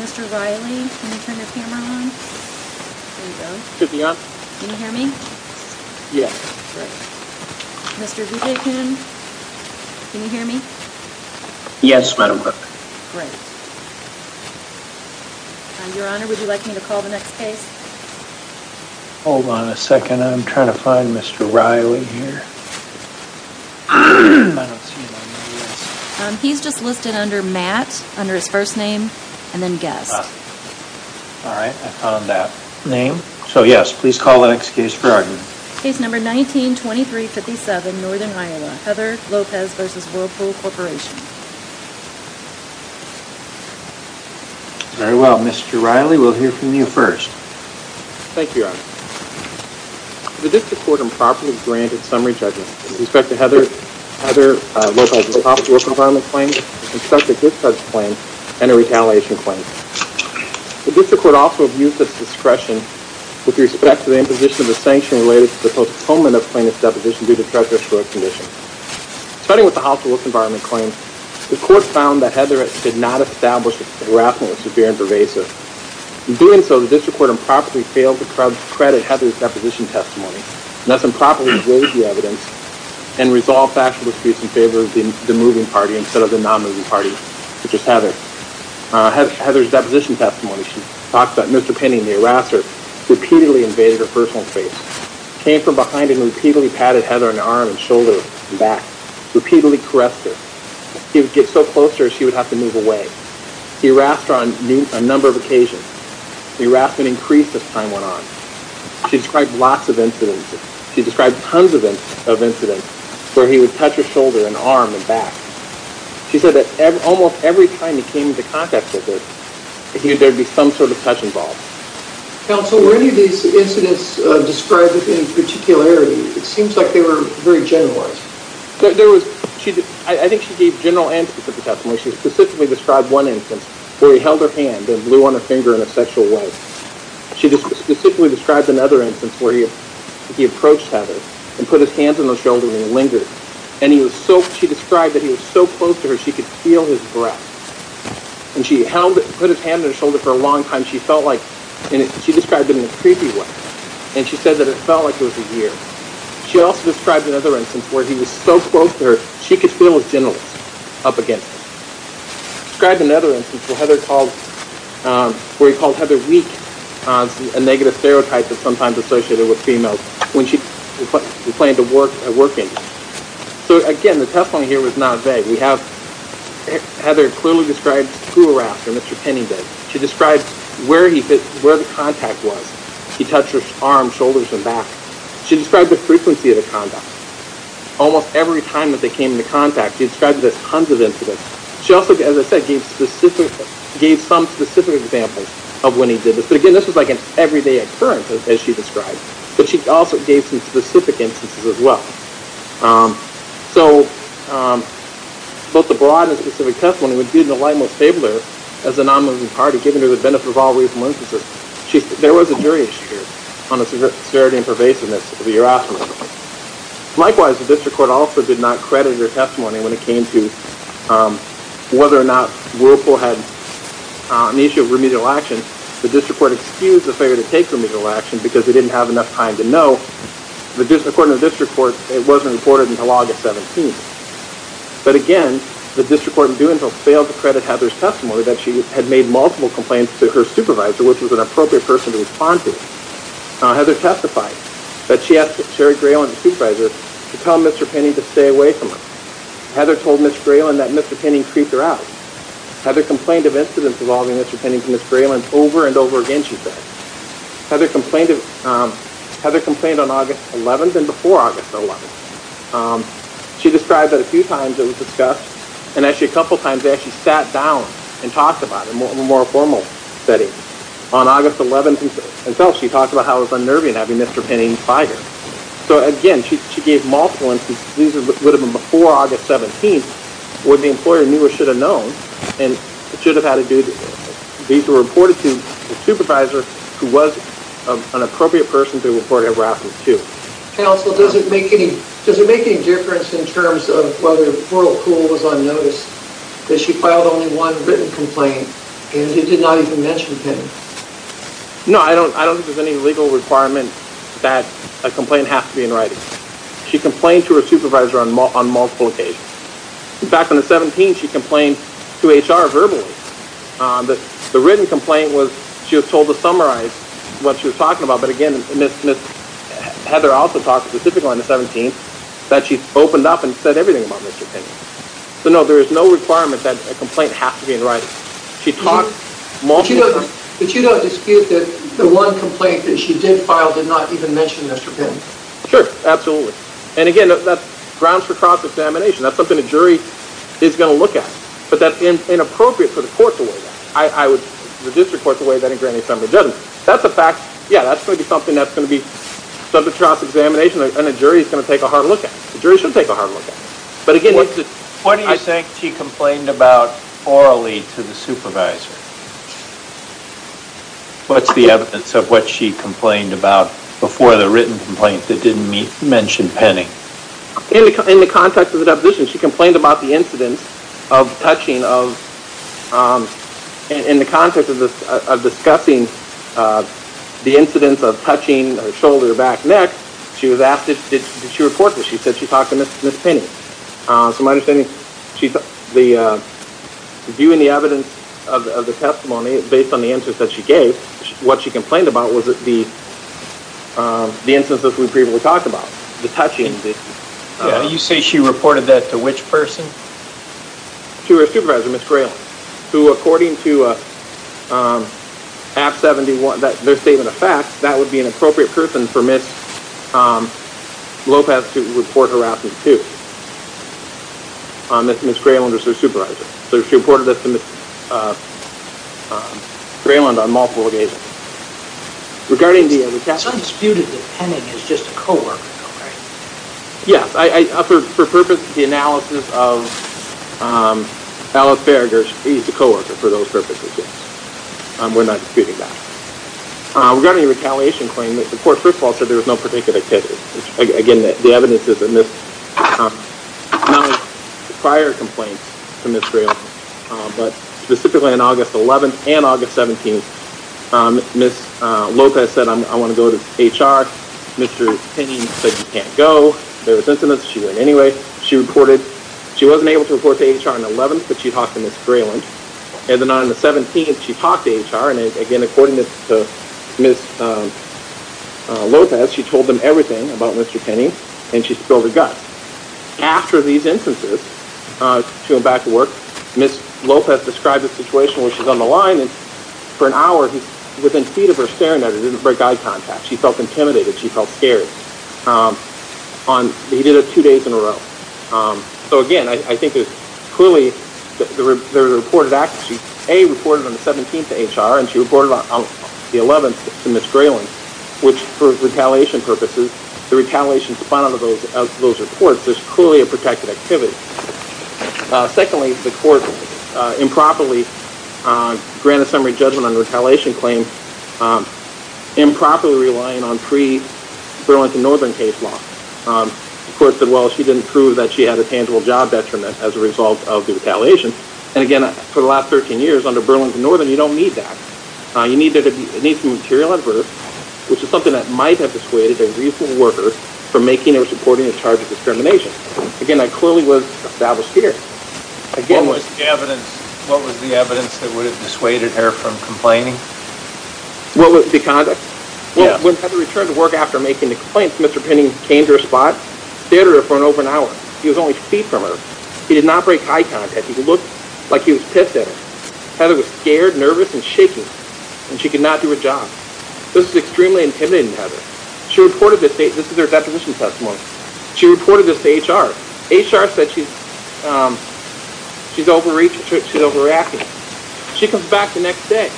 Mr. Riley, can you turn your camera on? There you go. Can you hear me? Yes. Mr. Buchanan, can you hear me? Yes, Madam Clerk. Great. Your Honor, would you like me to call the next case? Hold on a second, I'm trying to find Mr. Riley here. I don't see him on the list. He's just listed under Matt, under his first name, and then Guest. All right, I found that name. So, yes, please call the next case, Your Honor. Case number 19-2357, Northern Iowa, Heather Lopez v. Whirlpool Corporation. Very well, Mr. Riley, we'll hear from you first. Thank you, Your Honor. The district court improperly granted summary judgment with respect to Heather Lopez's housework environment claim, suspected discharge claim, and a retaliation claim. The district court also abused its discretion with respect to the imposition of a sanction related to the postponement of plaintiff's deposition due to treacherous court conditions. Starting with the housework environment claim, In doing so, the district court improperly failed to credit Heather's deposition testimony. Thus, improperly raised the evidence and resolved factual disputes in favor of the moving party instead of the non-moving party, which is Heather. Heather's deposition testimony, she talked about Mr. Penney and the harasser repeatedly invaded her personal space, came from behind and repeatedly patted Heather on the arm and shoulder and back, repeatedly caressed her. He would get so close to her, she would have to move away. He harassed her on a number of occasions. The harassment increased as time went on. She described lots of incidents. She described tons of incidents where he would touch her shoulder and arm and back. She said that almost every time he came into contact with her, there would be some sort of touch involved. Counsel, were any of these incidents described with any particularity? It seems like they were very generalized. I think she gave general and specific testimony. She specifically described one instance where he held her hand and blew on her finger in a sexual way. She specifically described another instance where he approached Heather and put his hands on her shoulder and he lingered. She described that he was so close to her she could feel his breath. She put his hand on her shoulder for a long time. She described it in a creepy way. She said that it felt like it was a year. She also described another instance where he was so close to her she could feel his genitals up against her. She described another instance where he called Heather weak, a negative stereotype that's sometimes associated with females, when she complained of working. So, again, the testimony here was not vague. Heather clearly described who harassed her, Mr. Penney did. She described where the contact was. He touched her arm, shoulders, and back. She described the frequency of the conduct. Almost every time that they came into contact, she described there's tons of incidents. She also, as I said, gave some specific examples of when he did this. But, again, this was like an everyday occurrence, as she described. But she also gave some specific instances as well. So, both the broad and specific testimony would do the light most favor as a non-moving party, given her the benefit of all reasonable instances. There was a jury issue here on the severity and pervasiveness of the harassment. Likewise, the district court also did not credit her testimony when it came to whether or not Whirlpool had an issue of remedial action. The district court excused the failure to take remedial action because they didn't have enough time to know. According to the district court, it wasn't reported until August 17th. But, again, the district court failed to credit Heather's testimony that she had made multiple complaints to her supervisor, which was an appropriate person to respond to. Heather testified that she asked Sherry Grayland, the supervisor, to tell Mr. Penning to stay away from her. Heather told Ms. Grayland that Mr. Penning creeped her out. Heather complained of incidents involving Mr. Penning to Ms. Grayland over and over again, she said. Heather complained on August 11th and before August 11th. She described that a few times it was discussed. A couple of times they actually sat down and talked about it in a more formal setting. On August 11th and 12th, she talked about how it was unnerving having Mr. Penning fired. So, again, she gave multiple instances. These would have been before August 17th when the employer knew or should have known and should have had a duty. These were reported to the supervisor, who was an appropriate person to report harassment to. Counsel, does it make any difference in terms of whether Portal Cool was on notice that she filed only one written complaint and did not even mention Penning? No, I don't think there's any legal requirement that a complaint has to be in writing. She complained to her supervisor on multiple occasions. In fact, on the 17th, she complained to HR verbally. The written complaint was she was told to summarize what she was talking about, but, again, Ms. Heather also talked specifically on the 17th that she opened up and said everything about Mr. Penning. So, no, there is no requirement that a complaint has to be in writing. She talked multiple times. But you don't dispute that the one complaint that she did file did not even mention Mr. Penning? Sure, absolutely. And, again, that grounds for cross-examination. That's something a jury is going to look at. But that's inappropriate for the court to weigh that. I would register the court to weigh that in granting some judgment. That's a fact. Yeah, that's going to be something that's going to be subject to cross-examination, and a jury is going to take a hard look at it. A jury should take a hard look at it. What do you think she complained about orally to the supervisor? What's the evidence of what she complained about before the written complaint that didn't mention Penning? In the context of the deposition, she complained about the incidence of touching of the shoulder, back, and neck. Did she report this? She said she talked to Ms. Penning. So my understanding is the view and the evidence of the testimony, based on the answers that she gave, what she complained about was the instances we previously talked about, the touching. You say she reported that to which person? To her supervisor, Ms. Grayland, who, according to their statement of facts, that would be an appropriate person for Ms. Lopez to report harassment to. Ms. Grayland was her supervisor. So she reported this to Ms. Grayland on multiple occasions. It's undisputed that Penning is just a co-worker, though, right? Yes. For purposes of analysis, Alice Berger, she's a co-worker for those purposes. We're not disputing that. Regarding the retaliation claim, the court first of all said there was no particular activity. Again, the evidence is in prior complaints to Ms. Grayland, but specifically on August 11th and August 17th, Ms. Lopez said, I want to go to HR. Mr. Penning said you can't go. There was incidents. She went anyway. She wasn't able to report to HR on the 11th, but she talked to Ms. Grayland. On the 17th, she talked to HR, and again, according to Ms. Lopez, she told them everything about Mr. Penning, and she spilled the guts. After these instances, she went back to work. Ms. Lopez described a situation where she's on the line, and for an hour, he's within feet of her staring at her. He didn't break eye contact. She felt intimidated. She felt scared. He did it two days in a row. So again, I think it's clearly there was a reported act. She, A, reported on the 17th to HR, and she reported on the 11th to Ms. Grayland, which for retaliation purposes, the retaliation is defined under those reports. There's clearly a protected activity. Secondly, the court improperly granted summary judgment on the retaliation claim, improperly relying on pre-Burlington Northern case law. The court said, well, she didn't prove that she had a tangible job detriment as a result of the retaliation, and again, for the last 13 years, under Burlington Northern, you don't need that. You need some material adverse, which is something that might have persuaded a reasonable worker from making or supporting a charge of discrimination. Again, that clearly was established here. What was the evidence that would have dissuaded her from complaining? The conduct? Yeah. When Heather returned to work after making the complaint, Mr. Penning came to her spot, stared at her for over an hour. He was only feet from her. He did not break eye contact. He looked like he was pissed at her. Heather was scared, nervous, and shaking, and she could not do her job. This was extremely intimidating to Heather. She reported this to HR. HR said she's overreacting. She comes back the next day.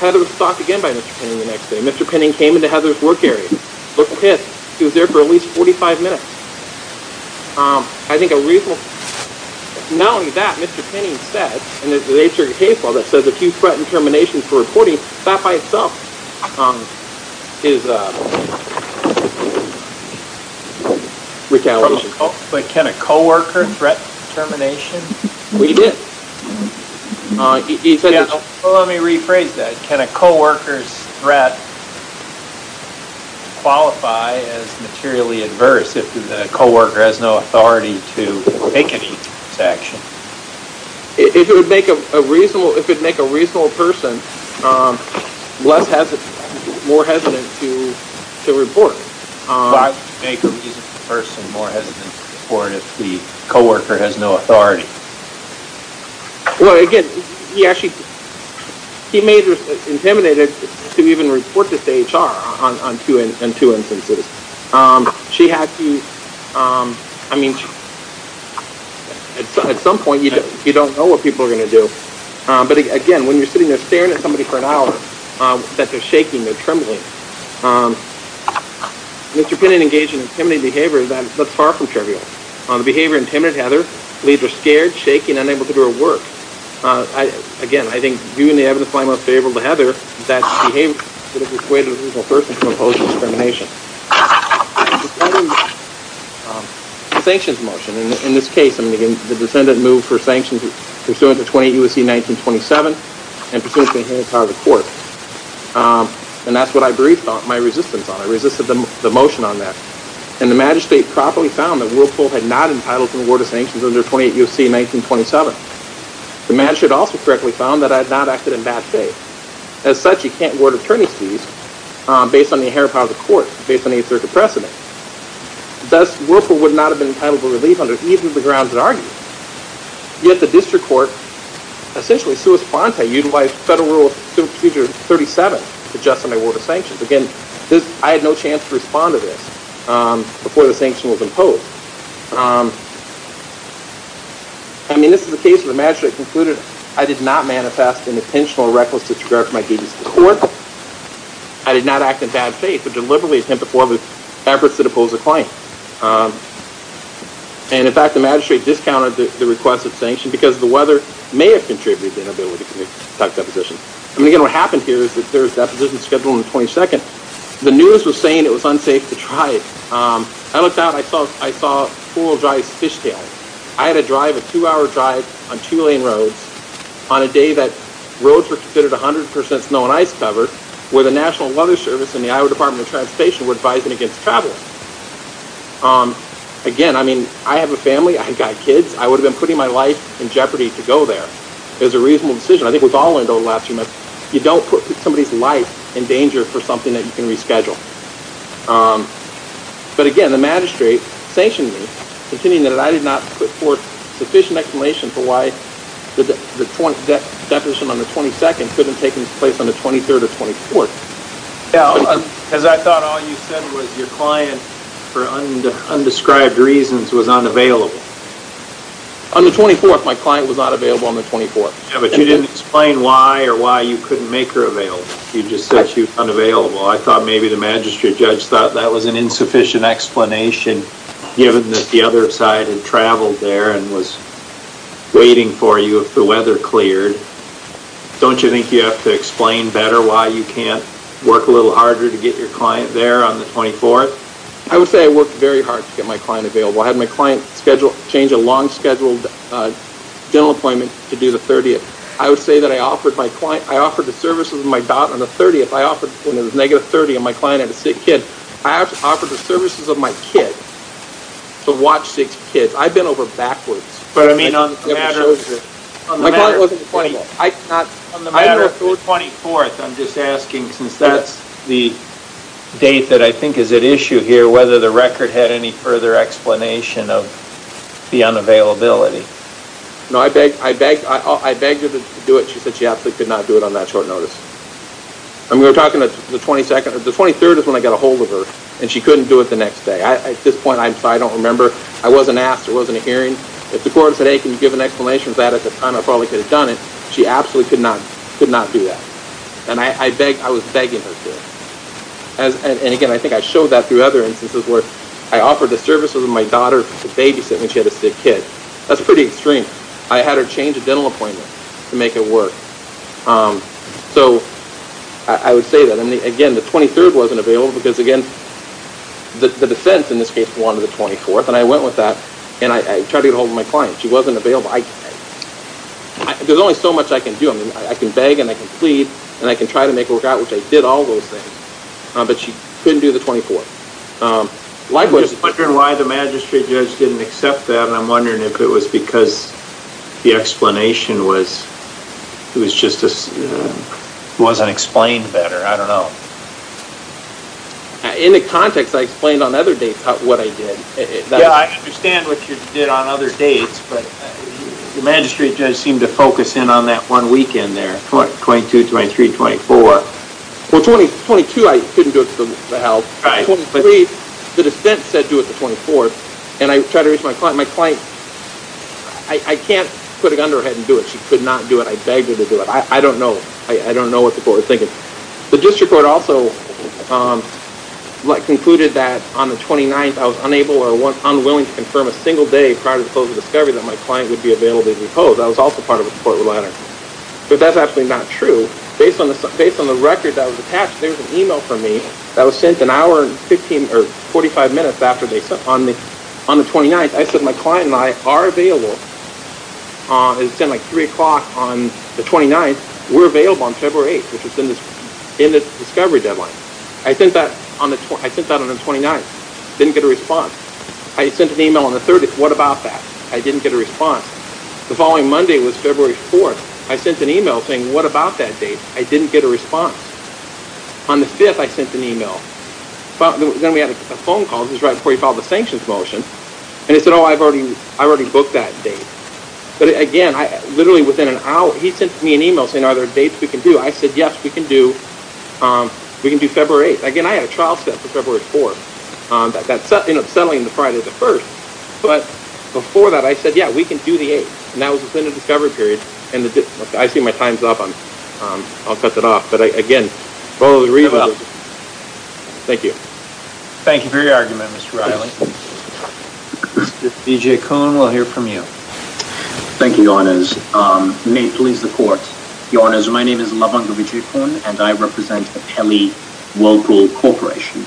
Heather was stalked again by Mr. Penning the next day. Mr. Penning came into Heather's work area, looked pissed. He was there for at least 45 minutes. Not only that, Mr. Penning said in the HR case file that says if you threaten termination for reporting, that by itself is retaliation. But can a coworker threat termination? We did. Let me rephrase that. Can a coworker's threat qualify as materially adverse if the coworker has no authority to make any such action? If it would make a reasonable person more hesitant to report. Why would it make a reasonable person more hesitant to report if the coworker has no authority? Well, again, he actually made her intimidated to even report this to HR on two instances. She had to, I mean, at some point you don't know what people are going to do. But, again, when you're sitting there staring at somebody for an hour that they're shaking, they're trembling. Mr. Penning engaged in intimidating behavior that's far from trivial. The behavior intimidated Heather, leaves her scared, shaking, unable to do her work. Again, I think viewing the evidence by and large favorable to Heather, that behavior would have persuaded a reasonable person to oppose the termination. Sanctions motion. In this case, the descendant moved for sanctions pursuant to 28 U.S.C. 1927 and pursuant to the inherent power of the court. And that's what I briefed my resistance on. I resisted the motion on that. And the magistrate properly found that Whirlpool had not been entitled to the warrant of sanctions under 28 U.S.C. 1927. The magistrate also correctly found that I had not acted in bad faith. As such, you can't warrant attorney's fees based on the inherent power of the court, based on any circuit precedent. Thus, Whirlpool would not have been entitled to relief under either of the grounds I argued. Yet the district court, essentially sui sponte, utilized Federal Rule Procedure 37 to justify my warrant of sanctions. Again, I had no chance to respond to this before the sanction was imposed. I mean, this is a case where the magistrate concluded I did not manifest an intentional reckless disregard for my duties to the court. I did not act in bad faith, but deliberately attempted to forfeit efforts to depose a client. And, in fact, the magistrate discounted the request of sanction because the weather may have contributed to inability to conduct deposition. I mean, again, what happened here is that there was deposition scheduled on the 22nd. The news was saying it was unsafe to drive. I looked out and I saw four-wheel drive's fishtail. I had to drive a two-hour drive on two-lane roads on a day that roads were considered 100% snow and ice covered, where the National Weather Service and the Iowa Department of Transportation were advising against travel. Again, I mean, I have a family. I've got kids. I would have been putting my life in jeopardy to go there. It was a reasonable decision. I think we've all learned over the last few months you don't put somebody's life in danger for something that you can reschedule. But, again, the magistrate sanctioned me continuing that I did not put forth sufficient explanation for why the deposition on the 22nd couldn't have taken place on the 23rd or 24th. Because I thought all you said was your client, for undescribed reasons, was unavailable. On the 24th, my client was not available on the 24th. Yeah, but you didn't explain why or why you couldn't make her available. You just said she was unavailable. I thought maybe the magistrate judge thought that was an insufficient explanation given that the other side had traveled there and was waiting for you if the weather cleared. Don't you think you have to explain better why you can't work a little harder to get your client there on the 24th? I would say I worked very hard to get my client available. I had my client change a long-scheduled dental appointment to do the 30th. I would say that I offered the services of my daughter on the 30th. I offered when it was negative 30 and my client had a sick kid. I offered the services of my kid to watch sick kids. I've been over backwards. On the matter of the 24th, I'm just asking, since that's the date that I think is at issue here, whether the record had any further explanation of the unavailability. No, I begged her to do it. She said she absolutely could not do it on that short notice. I mean, we're talking the 22nd. The 23rd is when I got ahold of her and she couldn't do it the next day. At this point, I don't remember. I wasn't asked. There wasn't a hearing. If the court had said, hey, can you give an explanation of that at the time, I probably could have done it. She absolutely could not do that. And I was begging her to. And, again, I think I showed that through other instances where I offered the services of my daughter to babysit when she had a sick kid. That's pretty extreme. I had her change a dental appointment to make it work. So I would say that. And, again, the 23rd wasn't available because, again, the defense, in this case, wanted the 24th. And I went with that and I tried to get ahold of my client. She wasn't available. There's only so much I can do. I can beg and I can plead and I can try to make it work out, which I did all those things. But she couldn't do the 24th. I'm just wondering why the magistrate judge didn't accept that, and I'm wondering if it was because the explanation wasn't explained better. I don't know. In the context, I explained on other dates what I did. Yeah, I understand what you did on other dates, but the magistrate judge seemed to focus in on that one weekend there, 22, 23, 24. Well, 22, I couldn't do it because of the health. 23, the defense said do it the 24th, and I tried to reach my client. My client, I can't put a gun to her head and do it. She could not do it. I begged her to do it. I don't know. I don't know what the court was thinking. The district court also concluded that on the 29th, I was unable or unwilling to confirm a single day prior to the close of the discovery that my client would be available to be posed. I was also part of a court order. But that's actually not true. Based on the record that was attached, there was an e-mail from me that was sent an hour and 15 or 45 minutes after they sent it. On the 29th, I said my client and I are available. It said like 3 o'clock on the 29th. We're available on February 8th, which is in the discovery deadline. I sent that on the 29th. Didn't get a response. I sent an e-mail on the 30th. What about that? I didn't get a response. The following Monday was February 4th. I sent an e-mail saying what about that date? I didn't get a response. On the 5th, I sent an e-mail. Then we had a phone call. This was right before he filed the sanctions motion. And it said, oh, I've already booked that date. But, again, literally within an hour, he sent me an e-mail saying, are there dates we can do? I said, yes, we can do February 8th. Again, I had a trial set for February 4th. That's settling the Friday the 1st. But before that, I said, yeah, we can do the 8th. And that was within the discovery period. I see my time's up. I'll cut that off. But, again, I'll read it. Thank you. Thank you for your argument, Mr. Reilly. Mr. Vijay Kuhn, we'll hear from you. Thank you, Your Honors. May it please the Court. Your Honors, my name is Lavanga Vijay Kuhn, and I represent the Pelley Local Corporation.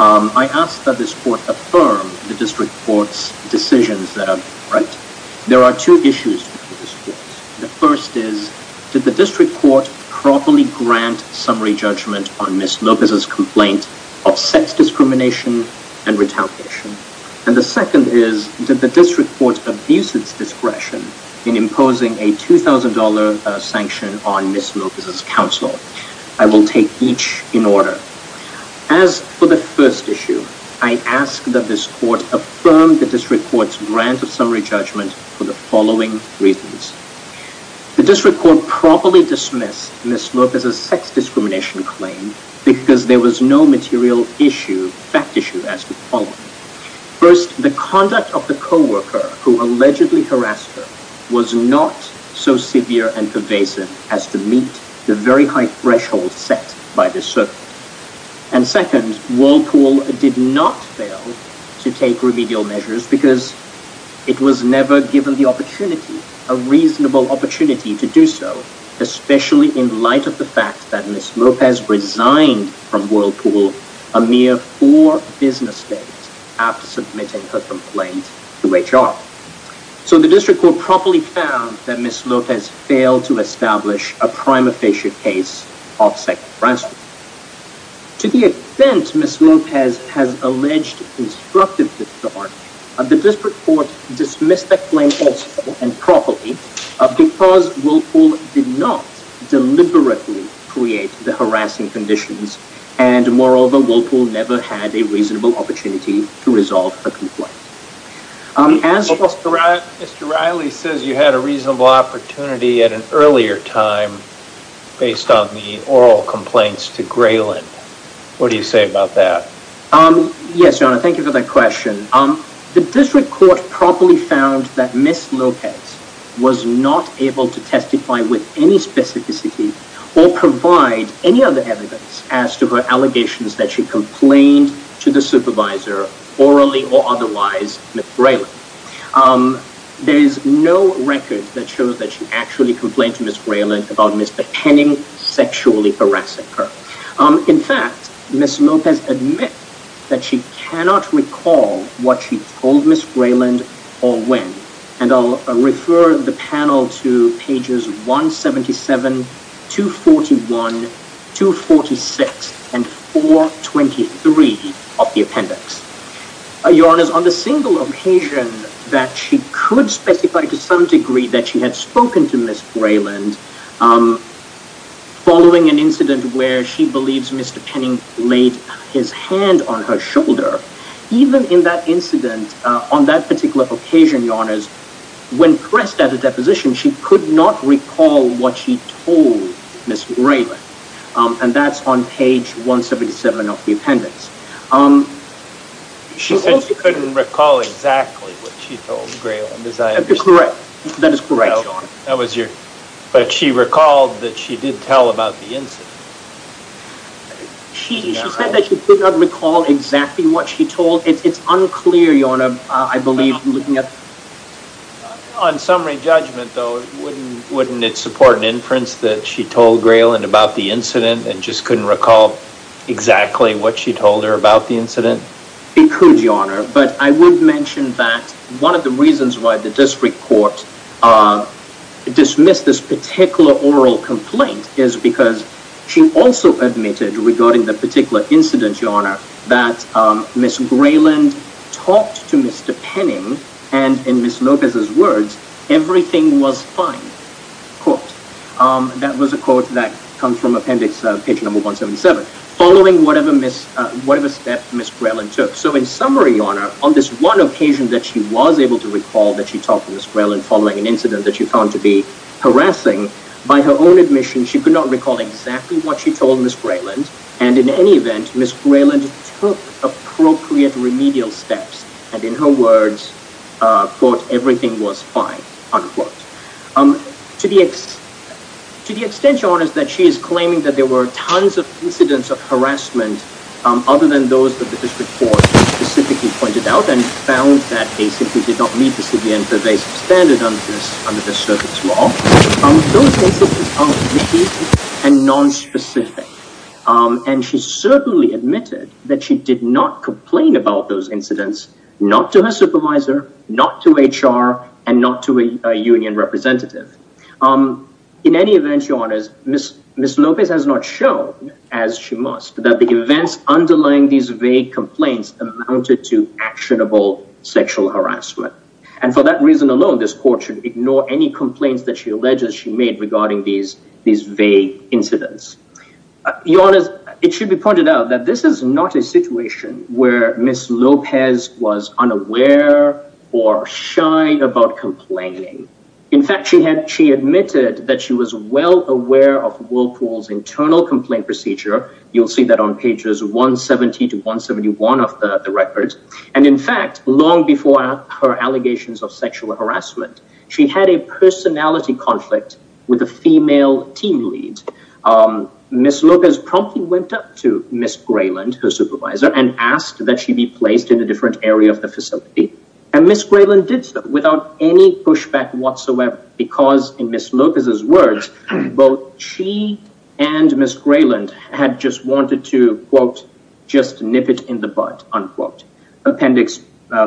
I ask that this Court affirm the District Court's decisions. There are two issues before this Court. The first is, did the District Court properly grant summary judgment on Ms. Lopez's complaint of sex discrimination and retaliation? And the second is, did the District Court abuse its discretion in imposing a $2,000 sanction on Ms. Lopez's counsel? I will take each in order. As for the first issue, I ask that this Court affirm the District Court's grant of summary judgment for the following reasons. The District Court properly dismissed Ms. Lopez's sex discrimination claim because there was no material issue, fact issue, as to follow. First, the conduct of the coworker who allegedly harassed her was not so severe and pervasive as to meet the very high threshold set by this circuit. And second, Whirlpool did not fail to take remedial measures because it was never given the opportunity, a reasonable opportunity to do so, especially in light of the fact that Ms. Lopez resigned from Whirlpool a mere four business days after submitting her complaint to HR. So the District Court properly found that Ms. Lopez failed to establish a prima facie case of sex harassment. To the extent Ms. Lopez has alleged constructive disregard, the District Court dismissed that claim also and properly because Whirlpool did not deliberately create the harassing conditions and, moreover, Whirlpool never had a reasonable opportunity to resolve her complaint. Mr. Riley says you had a reasonable opportunity at an earlier time based on the oral complaints to Graylin. What do you say about that? Yes, John, thank you for that question. The District Court properly found that Ms. Lopez was not able to testify with any specificity or provide any other evidence as to her allegations that she complained to the supervisor, orally or otherwise, with Graylin. There is no record that shows that she actually complained to Ms. Graylin about Ms. McKenning sexually harassing her. In fact, Ms. Lopez admits that she cannot recall what she told Ms. Graylin or when, and I'll refer the panel to pages 177, 241, 246, and 423 of the appendix. Your Honor, on the single occasion that she could specify to some degree that she had spoken to Ms. Graylin following an incident where she believes Mr. Penning laid his hand on her shoulder, even in that incident, on that particular occasion, Your Honor, when pressed at a deposition, she could not recall what she told Ms. Graylin, and that's on page 177 of the appendix. She said she couldn't recall exactly what she told Graylin, as I understand. Correct. That is correct, Your Honor. But she recalled that she did tell about the incident. She said that she could not recall exactly what she told. It's unclear, Your Honor, I believe. On summary judgment, though, wouldn't it support an inference that she told Graylin about the incident and just couldn't recall exactly what she told her about the incident? It could, Your Honor, but I would mention that one of the reasons why the district court dismissed this particular oral complaint is because she also admitted regarding the particular incident, Your Honor, that Ms. Graylin talked to Mr. Penning, and in Ms. Lopez's words, everything was fine, quote. That was a quote that comes from appendix page number 177, following whatever step Ms. Graylin took. So in summary, Your Honor, on this one occasion that she was able to recall that she talked to Ms. Graylin following an incident that she found to be harassing, by her own admission, she could not recall exactly what she told Ms. Graylin, and in any event, Ms. Graylin took appropriate remedial steps, and in her words, quote, everything was fine, unquote. To the extent, Your Honor, that she is claiming that there were tons of incidents of harassment other than those that the district court specifically pointed out and found that they simply did not meet the civilian pervasive standard under this circuit's law, those incidents are risky and nonspecific, and she certainly admitted that she did not complain about those incidents not to her supervisor, not to HR, and not to a union representative. In any event, Your Honor, Ms. Lopez has not shown, as she must, that the events underlying these vague complaints amounted to actionable sexual harassment, and for that reason alone, this court should ignore any complaints that she alleges she made regarding these vague incidents. Your Honor, it should be pointed out that this is not a situation where Ms. Lopez was unaware or shy about complaining. In fact, she admitted that she was well aware of Whirlpool's internal complaint procedure. You'll see that on pages 170 to 171 of the record, and in fact, long before her allegations of sexual harassment, she had a personality conflict with a female team lead. Ms. Lopez promptly went up to Ms. Grayland, her supervisor, and asked that she be placed in a different area of the facility, and Ms. Grayland did so without any pushback whatsoever because, in Ms. Lopez's words, both she and Ms. Grayland had just wanted to, quote, just nip it in the bud, unquote. Appendix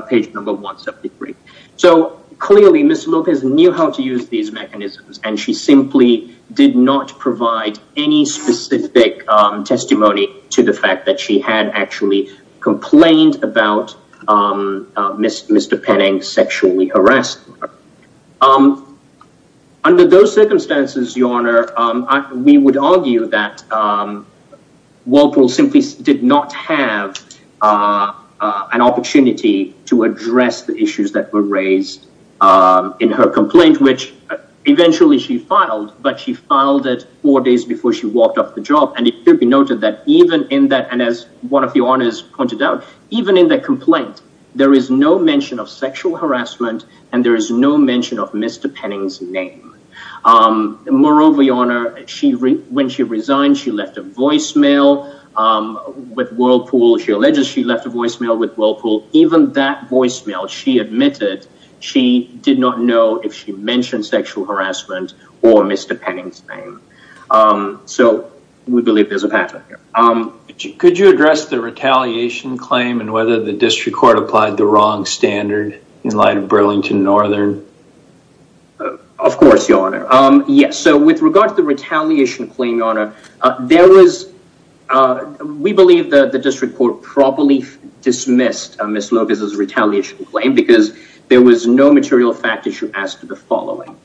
page number 173. So, clearly, Ms. Lopez knew how to use these mechanisms, and she simply did not provide any specific testimony to the fact that she had actually complained about Mr. Penning sexually harassing her. Under those circumstances, Your Honor, we would argue that Whirlpool simply did not have an opportunity to address the issues that were raised in her complaint, which eventually she filed, but she filed it four days before she walked off the job, and it should be noted that even in that, and as one of Your Honors pointed out, even in that complaint, there is no mention of sexual harassment and there is no mention of Mr. Penning's name. Moreover, Your Honor, when she resigned, she left a voicemail with Whirlpool. She alleges she left a voicemail with Whirlpool. Even that voicemail, she admitted she did not know if she mentioned sexual harassment or Mr. Penning's name. So, we believe there's a pattern here. Could you address the retaliation claim and whether the district court applied the wrong standard in light of Burlington Northern? Of course, Your Honor. Yes, so with regard to the retaliation claim, Your Honor, there was, we believe that the district court probably dismissed Ms. Lopez's retaliation claim because there was no material fact issue as to the following.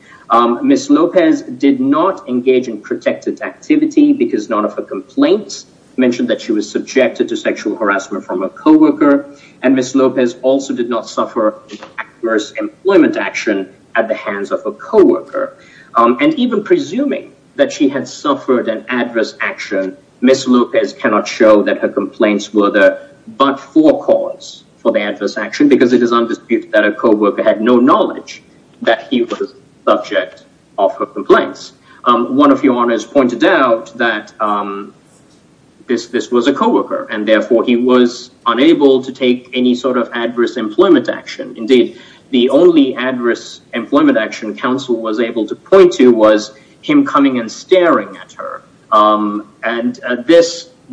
Ms. Lopez did not engage in protected activity because none of her complaints mentioned that she was subjected to sexual harassment from a co-worker. And Ms. Lopez also did not suffer adverse employment action at the hands of a co-worker. And even presuming that she had suffered an adverse action, Ms. Lopez cannot show that her complaints were the but-for cause for the adverse action because it is undisputed that a co-worker had no knowledge that he was the subject of her complaints. One of Your Honors pointed out that this was a co-worker and therefore he was unable to take any sort of adverse employment action. Indeed, the only adverse employment action counsel was able to point to was him coming and staring at her. And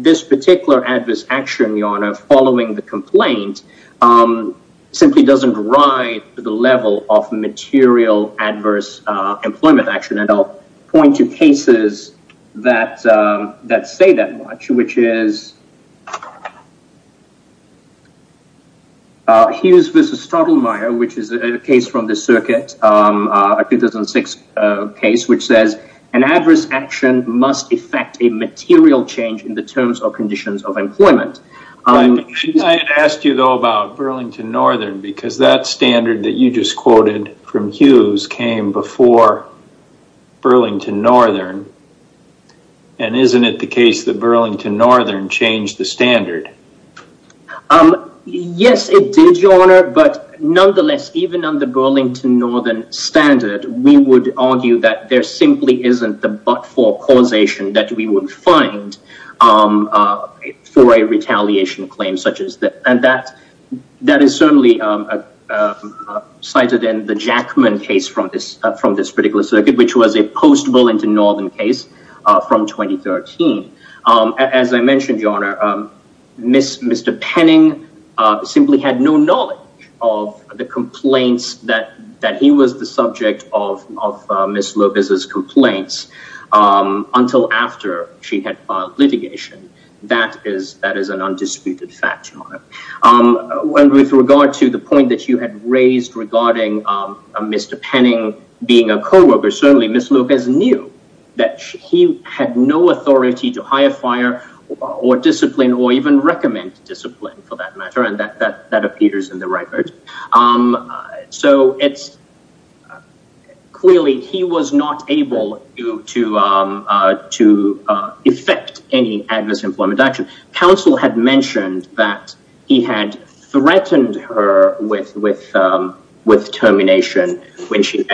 this particular adverse action, Your Honor, following the complaint, simply doesn't ride the level of material adverse employment action. And I'll point to cases that say that much, which is Hughes v. Stottelmayer, which is a case from the circuit, a 2006 case, which says an adverse action must affect a material change in the terms or conditions of employment. I had asked you, though, about Burlington Northern because that standard that you just quoted from Hughes came before Burlington Northern. And isn't it the case that Burlington Northern changed the standard? Yes, it did, Your Honor. But nonetheless, even on the Burlington Northern standard, we would argue that there simply isn't the but-for causation that we would find for a retaliation claim such as that. And that is certainly cited in the Jackman case from this particular circuit, which was a post-Burlington Northern case from 2013. As I mentioned, Your Honor, Mr. Penning simply had no knowledge of the complaints that he was the subject of Ms. Lopez's complaints until after she had filed litigation. That is an undisputed fact, Your Honor. And with regard to the point that you had raised regarding Mr. Penning being a coworker, certainly Ms. Lopez knew that she had no authority to hire, fire, or discipline, or even recommend discipline, for that matter. And that appears in the record. So it's... Clearly, he was not able to effect any adverse employment action. Counsel had mentioned that he had threatened her with termination when she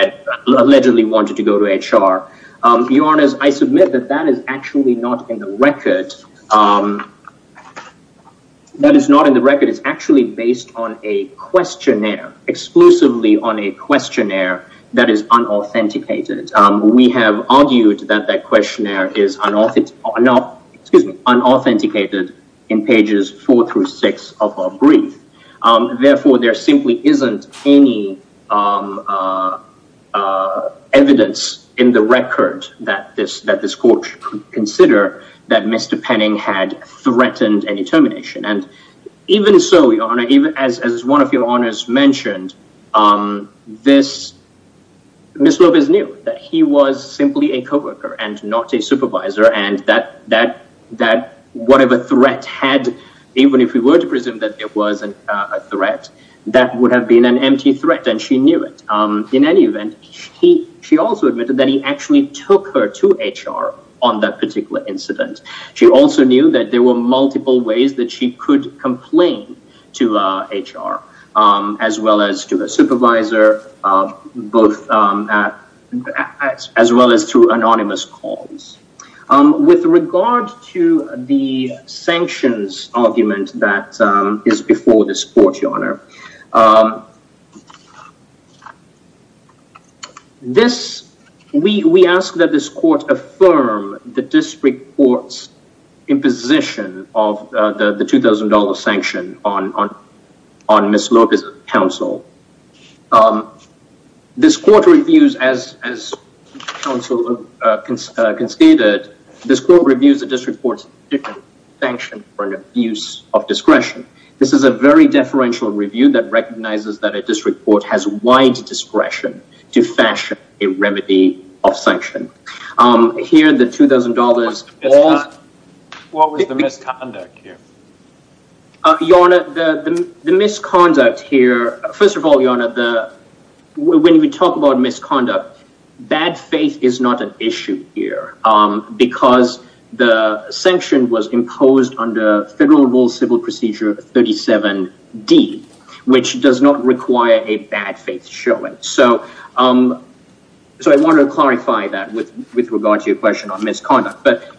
allegedly wanted to go to HR. Your Honor, I submit that that is actually not in the record. That is not in the record. It's actually based on a questionnaire, exclusively on a questionnaire that is unauthenticated. We have argued that that questionnaire is unauthenticated in pages four through six of our brief. Therefore, there simply isn't any evidence in the record that this court could consider that Mr. Penning had threatened any termination. And even so, Your Honor, as one of Your Honors mentioned, Ms. Lopez knew that he was simply a coworker and not a supervisor, and that whatever threat had, even if we were to presume that there was a threat, that would have been an empty threat, and she knew it. In any event, she also admitted that he actually took her to HR on that particular incident. She also knew that there were multiple ways that she could complain to HR, as well as to a supervisor, as well as through anonymous calls. With regard to the sanctions argument that is before this court, Your Honor, we ask that this court affirm the district court's imposition of the $2,000 sanction on Ms. Lopez's counsel. This court reviews, as counsel conceded, this court reviews the district court's sanction for an abuse of discretion. This is a very deferential review that recognizes that a district court has wide discretion to fashion a remedy of sanction. Here, the $2,000... What was the misconduct here? Your Honor, the misconduct here... First of all, Your Honor, when we talk about misconduct, bad faith is not an issue here because the sanction was imposed under Federal Rule Civil Procedure 37D, which does not require a bad faith showing. So I want to clarify that with regard to your question on misconduct, but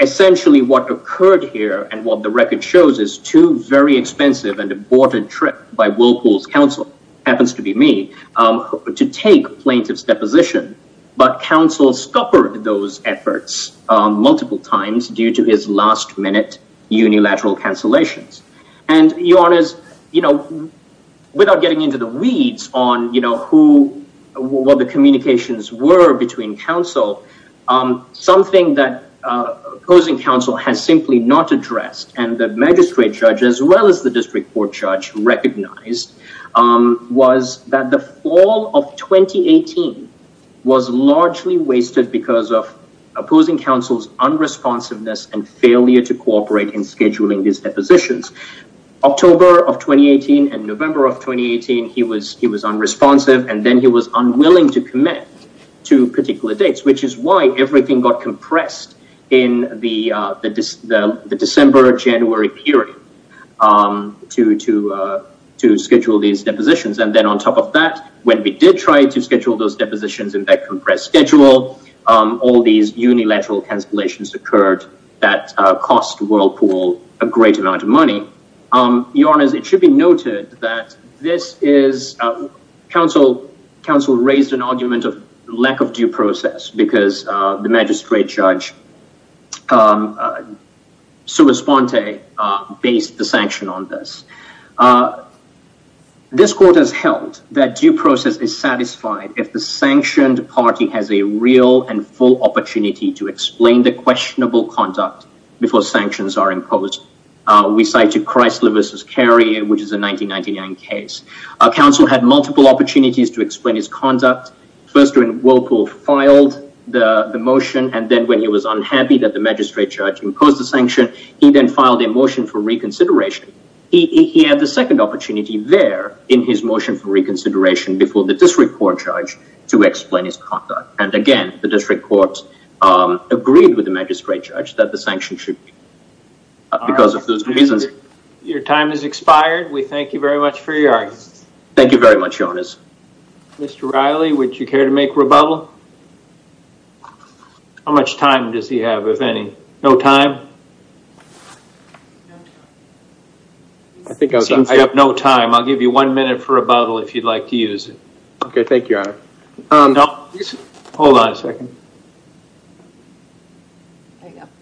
essentially what occurred here and what the record shows is two very expensive and important trips by Wilcool's counsel, happens to be me, to take plaintiff's deposition, but counsel scuppered those efforts multiple times due to his last-minute unilateral cancellations. And, Your Honor, without getting into the weeds on what the communications were between counsel, something that opposing counsel has simply not addressed and the magistrate judge, as well as the district court judge, recognized was that the fall of 2018 was largely wasted because of opposing counsel's unresponsiveness and failure to cooperate in scheduling these depositions. October of 2018 and November of 2018, he was unresponsive and then he was unwilling to commit to particular dates, which is why everything got compressed in the December-January period to schedule these depositions. And then on top of that, when we did try to schedule those depositions in that compressed schedule, all these unilateral cancellations occurred that cost Wilcool a great amount of money. Your Honor, it should be noted that this is, counsel raised an argument of lack of due process because the magistrate judge, Sue Esponte, based the sanction on this. This court has held that due process is satisfied if the sanctioned party has a real and full opportunity to explain the questionable conduct before sanctions are imposed. We cited Chrysler v. Carey, which is a 1999 case. Counsel had multiple opportunities to explain his conduct. First, when Wilcool filed the motion and then when he was unhappy that the magistrate judge imposed the sanction, he then filed a motion for reconsideration. He had the second opportunity there in his motion for reconsideration before the district court judge to explain his conduct. And again, the district court agreed with the magistrate judge that the sanction should be because of those two reasons. Your time has expired. We thank you very much for your artistry. Thank you very much, Jonas. Mr. Riley, would you care to make rebuttal? How much time does he have, if any? No time? I have no time. I'll give you one minute for rebuttal if you'd like to use it. Okay, thank you, Your Honor. Hold on a second.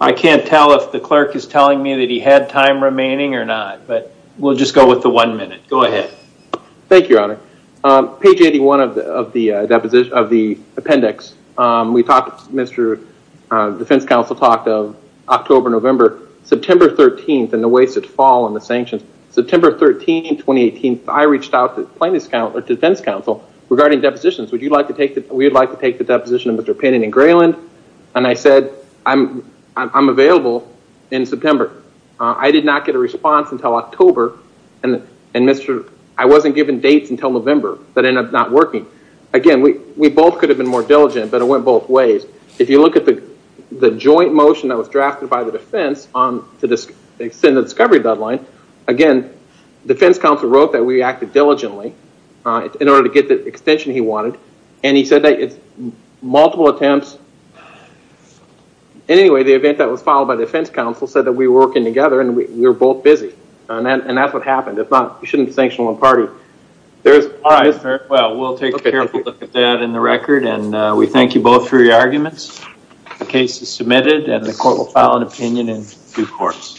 I can't tell if the clerk is telling me that he had time remaining or not. But we'll just go with the one minute. Go ahead. Thank you, Your Honor. Page 81 of the appendix, we talked, Mr. Defense Counsel talked of October, November, September 13th and the wasted fall and the sanctions. September 13, 2018, I reached out to defense counsel regarding depositions. We'd like to take the deposition of Mr. Penning and Grayland. And I said, I'm available in September. I did not get a response until October. I wasn't given dates until November that ended up not working. Again, we both could have been more diligent, but it went both ways. If you look at the joint motion that was drafted by the defense to extend the discovery deadline, again, defense counsel wrote that we acted diligently in order to get the extension he wanted. And he said that it's multiple attempts. Anyway, the event that was filed by defense counsel said that we were working together and we were both busy. And that's what happened. You shouldn't sanction one party. We'll take a careful look at that in the record and we thank you both for your arguments. The case is submitted and the court will file an opinion in due course.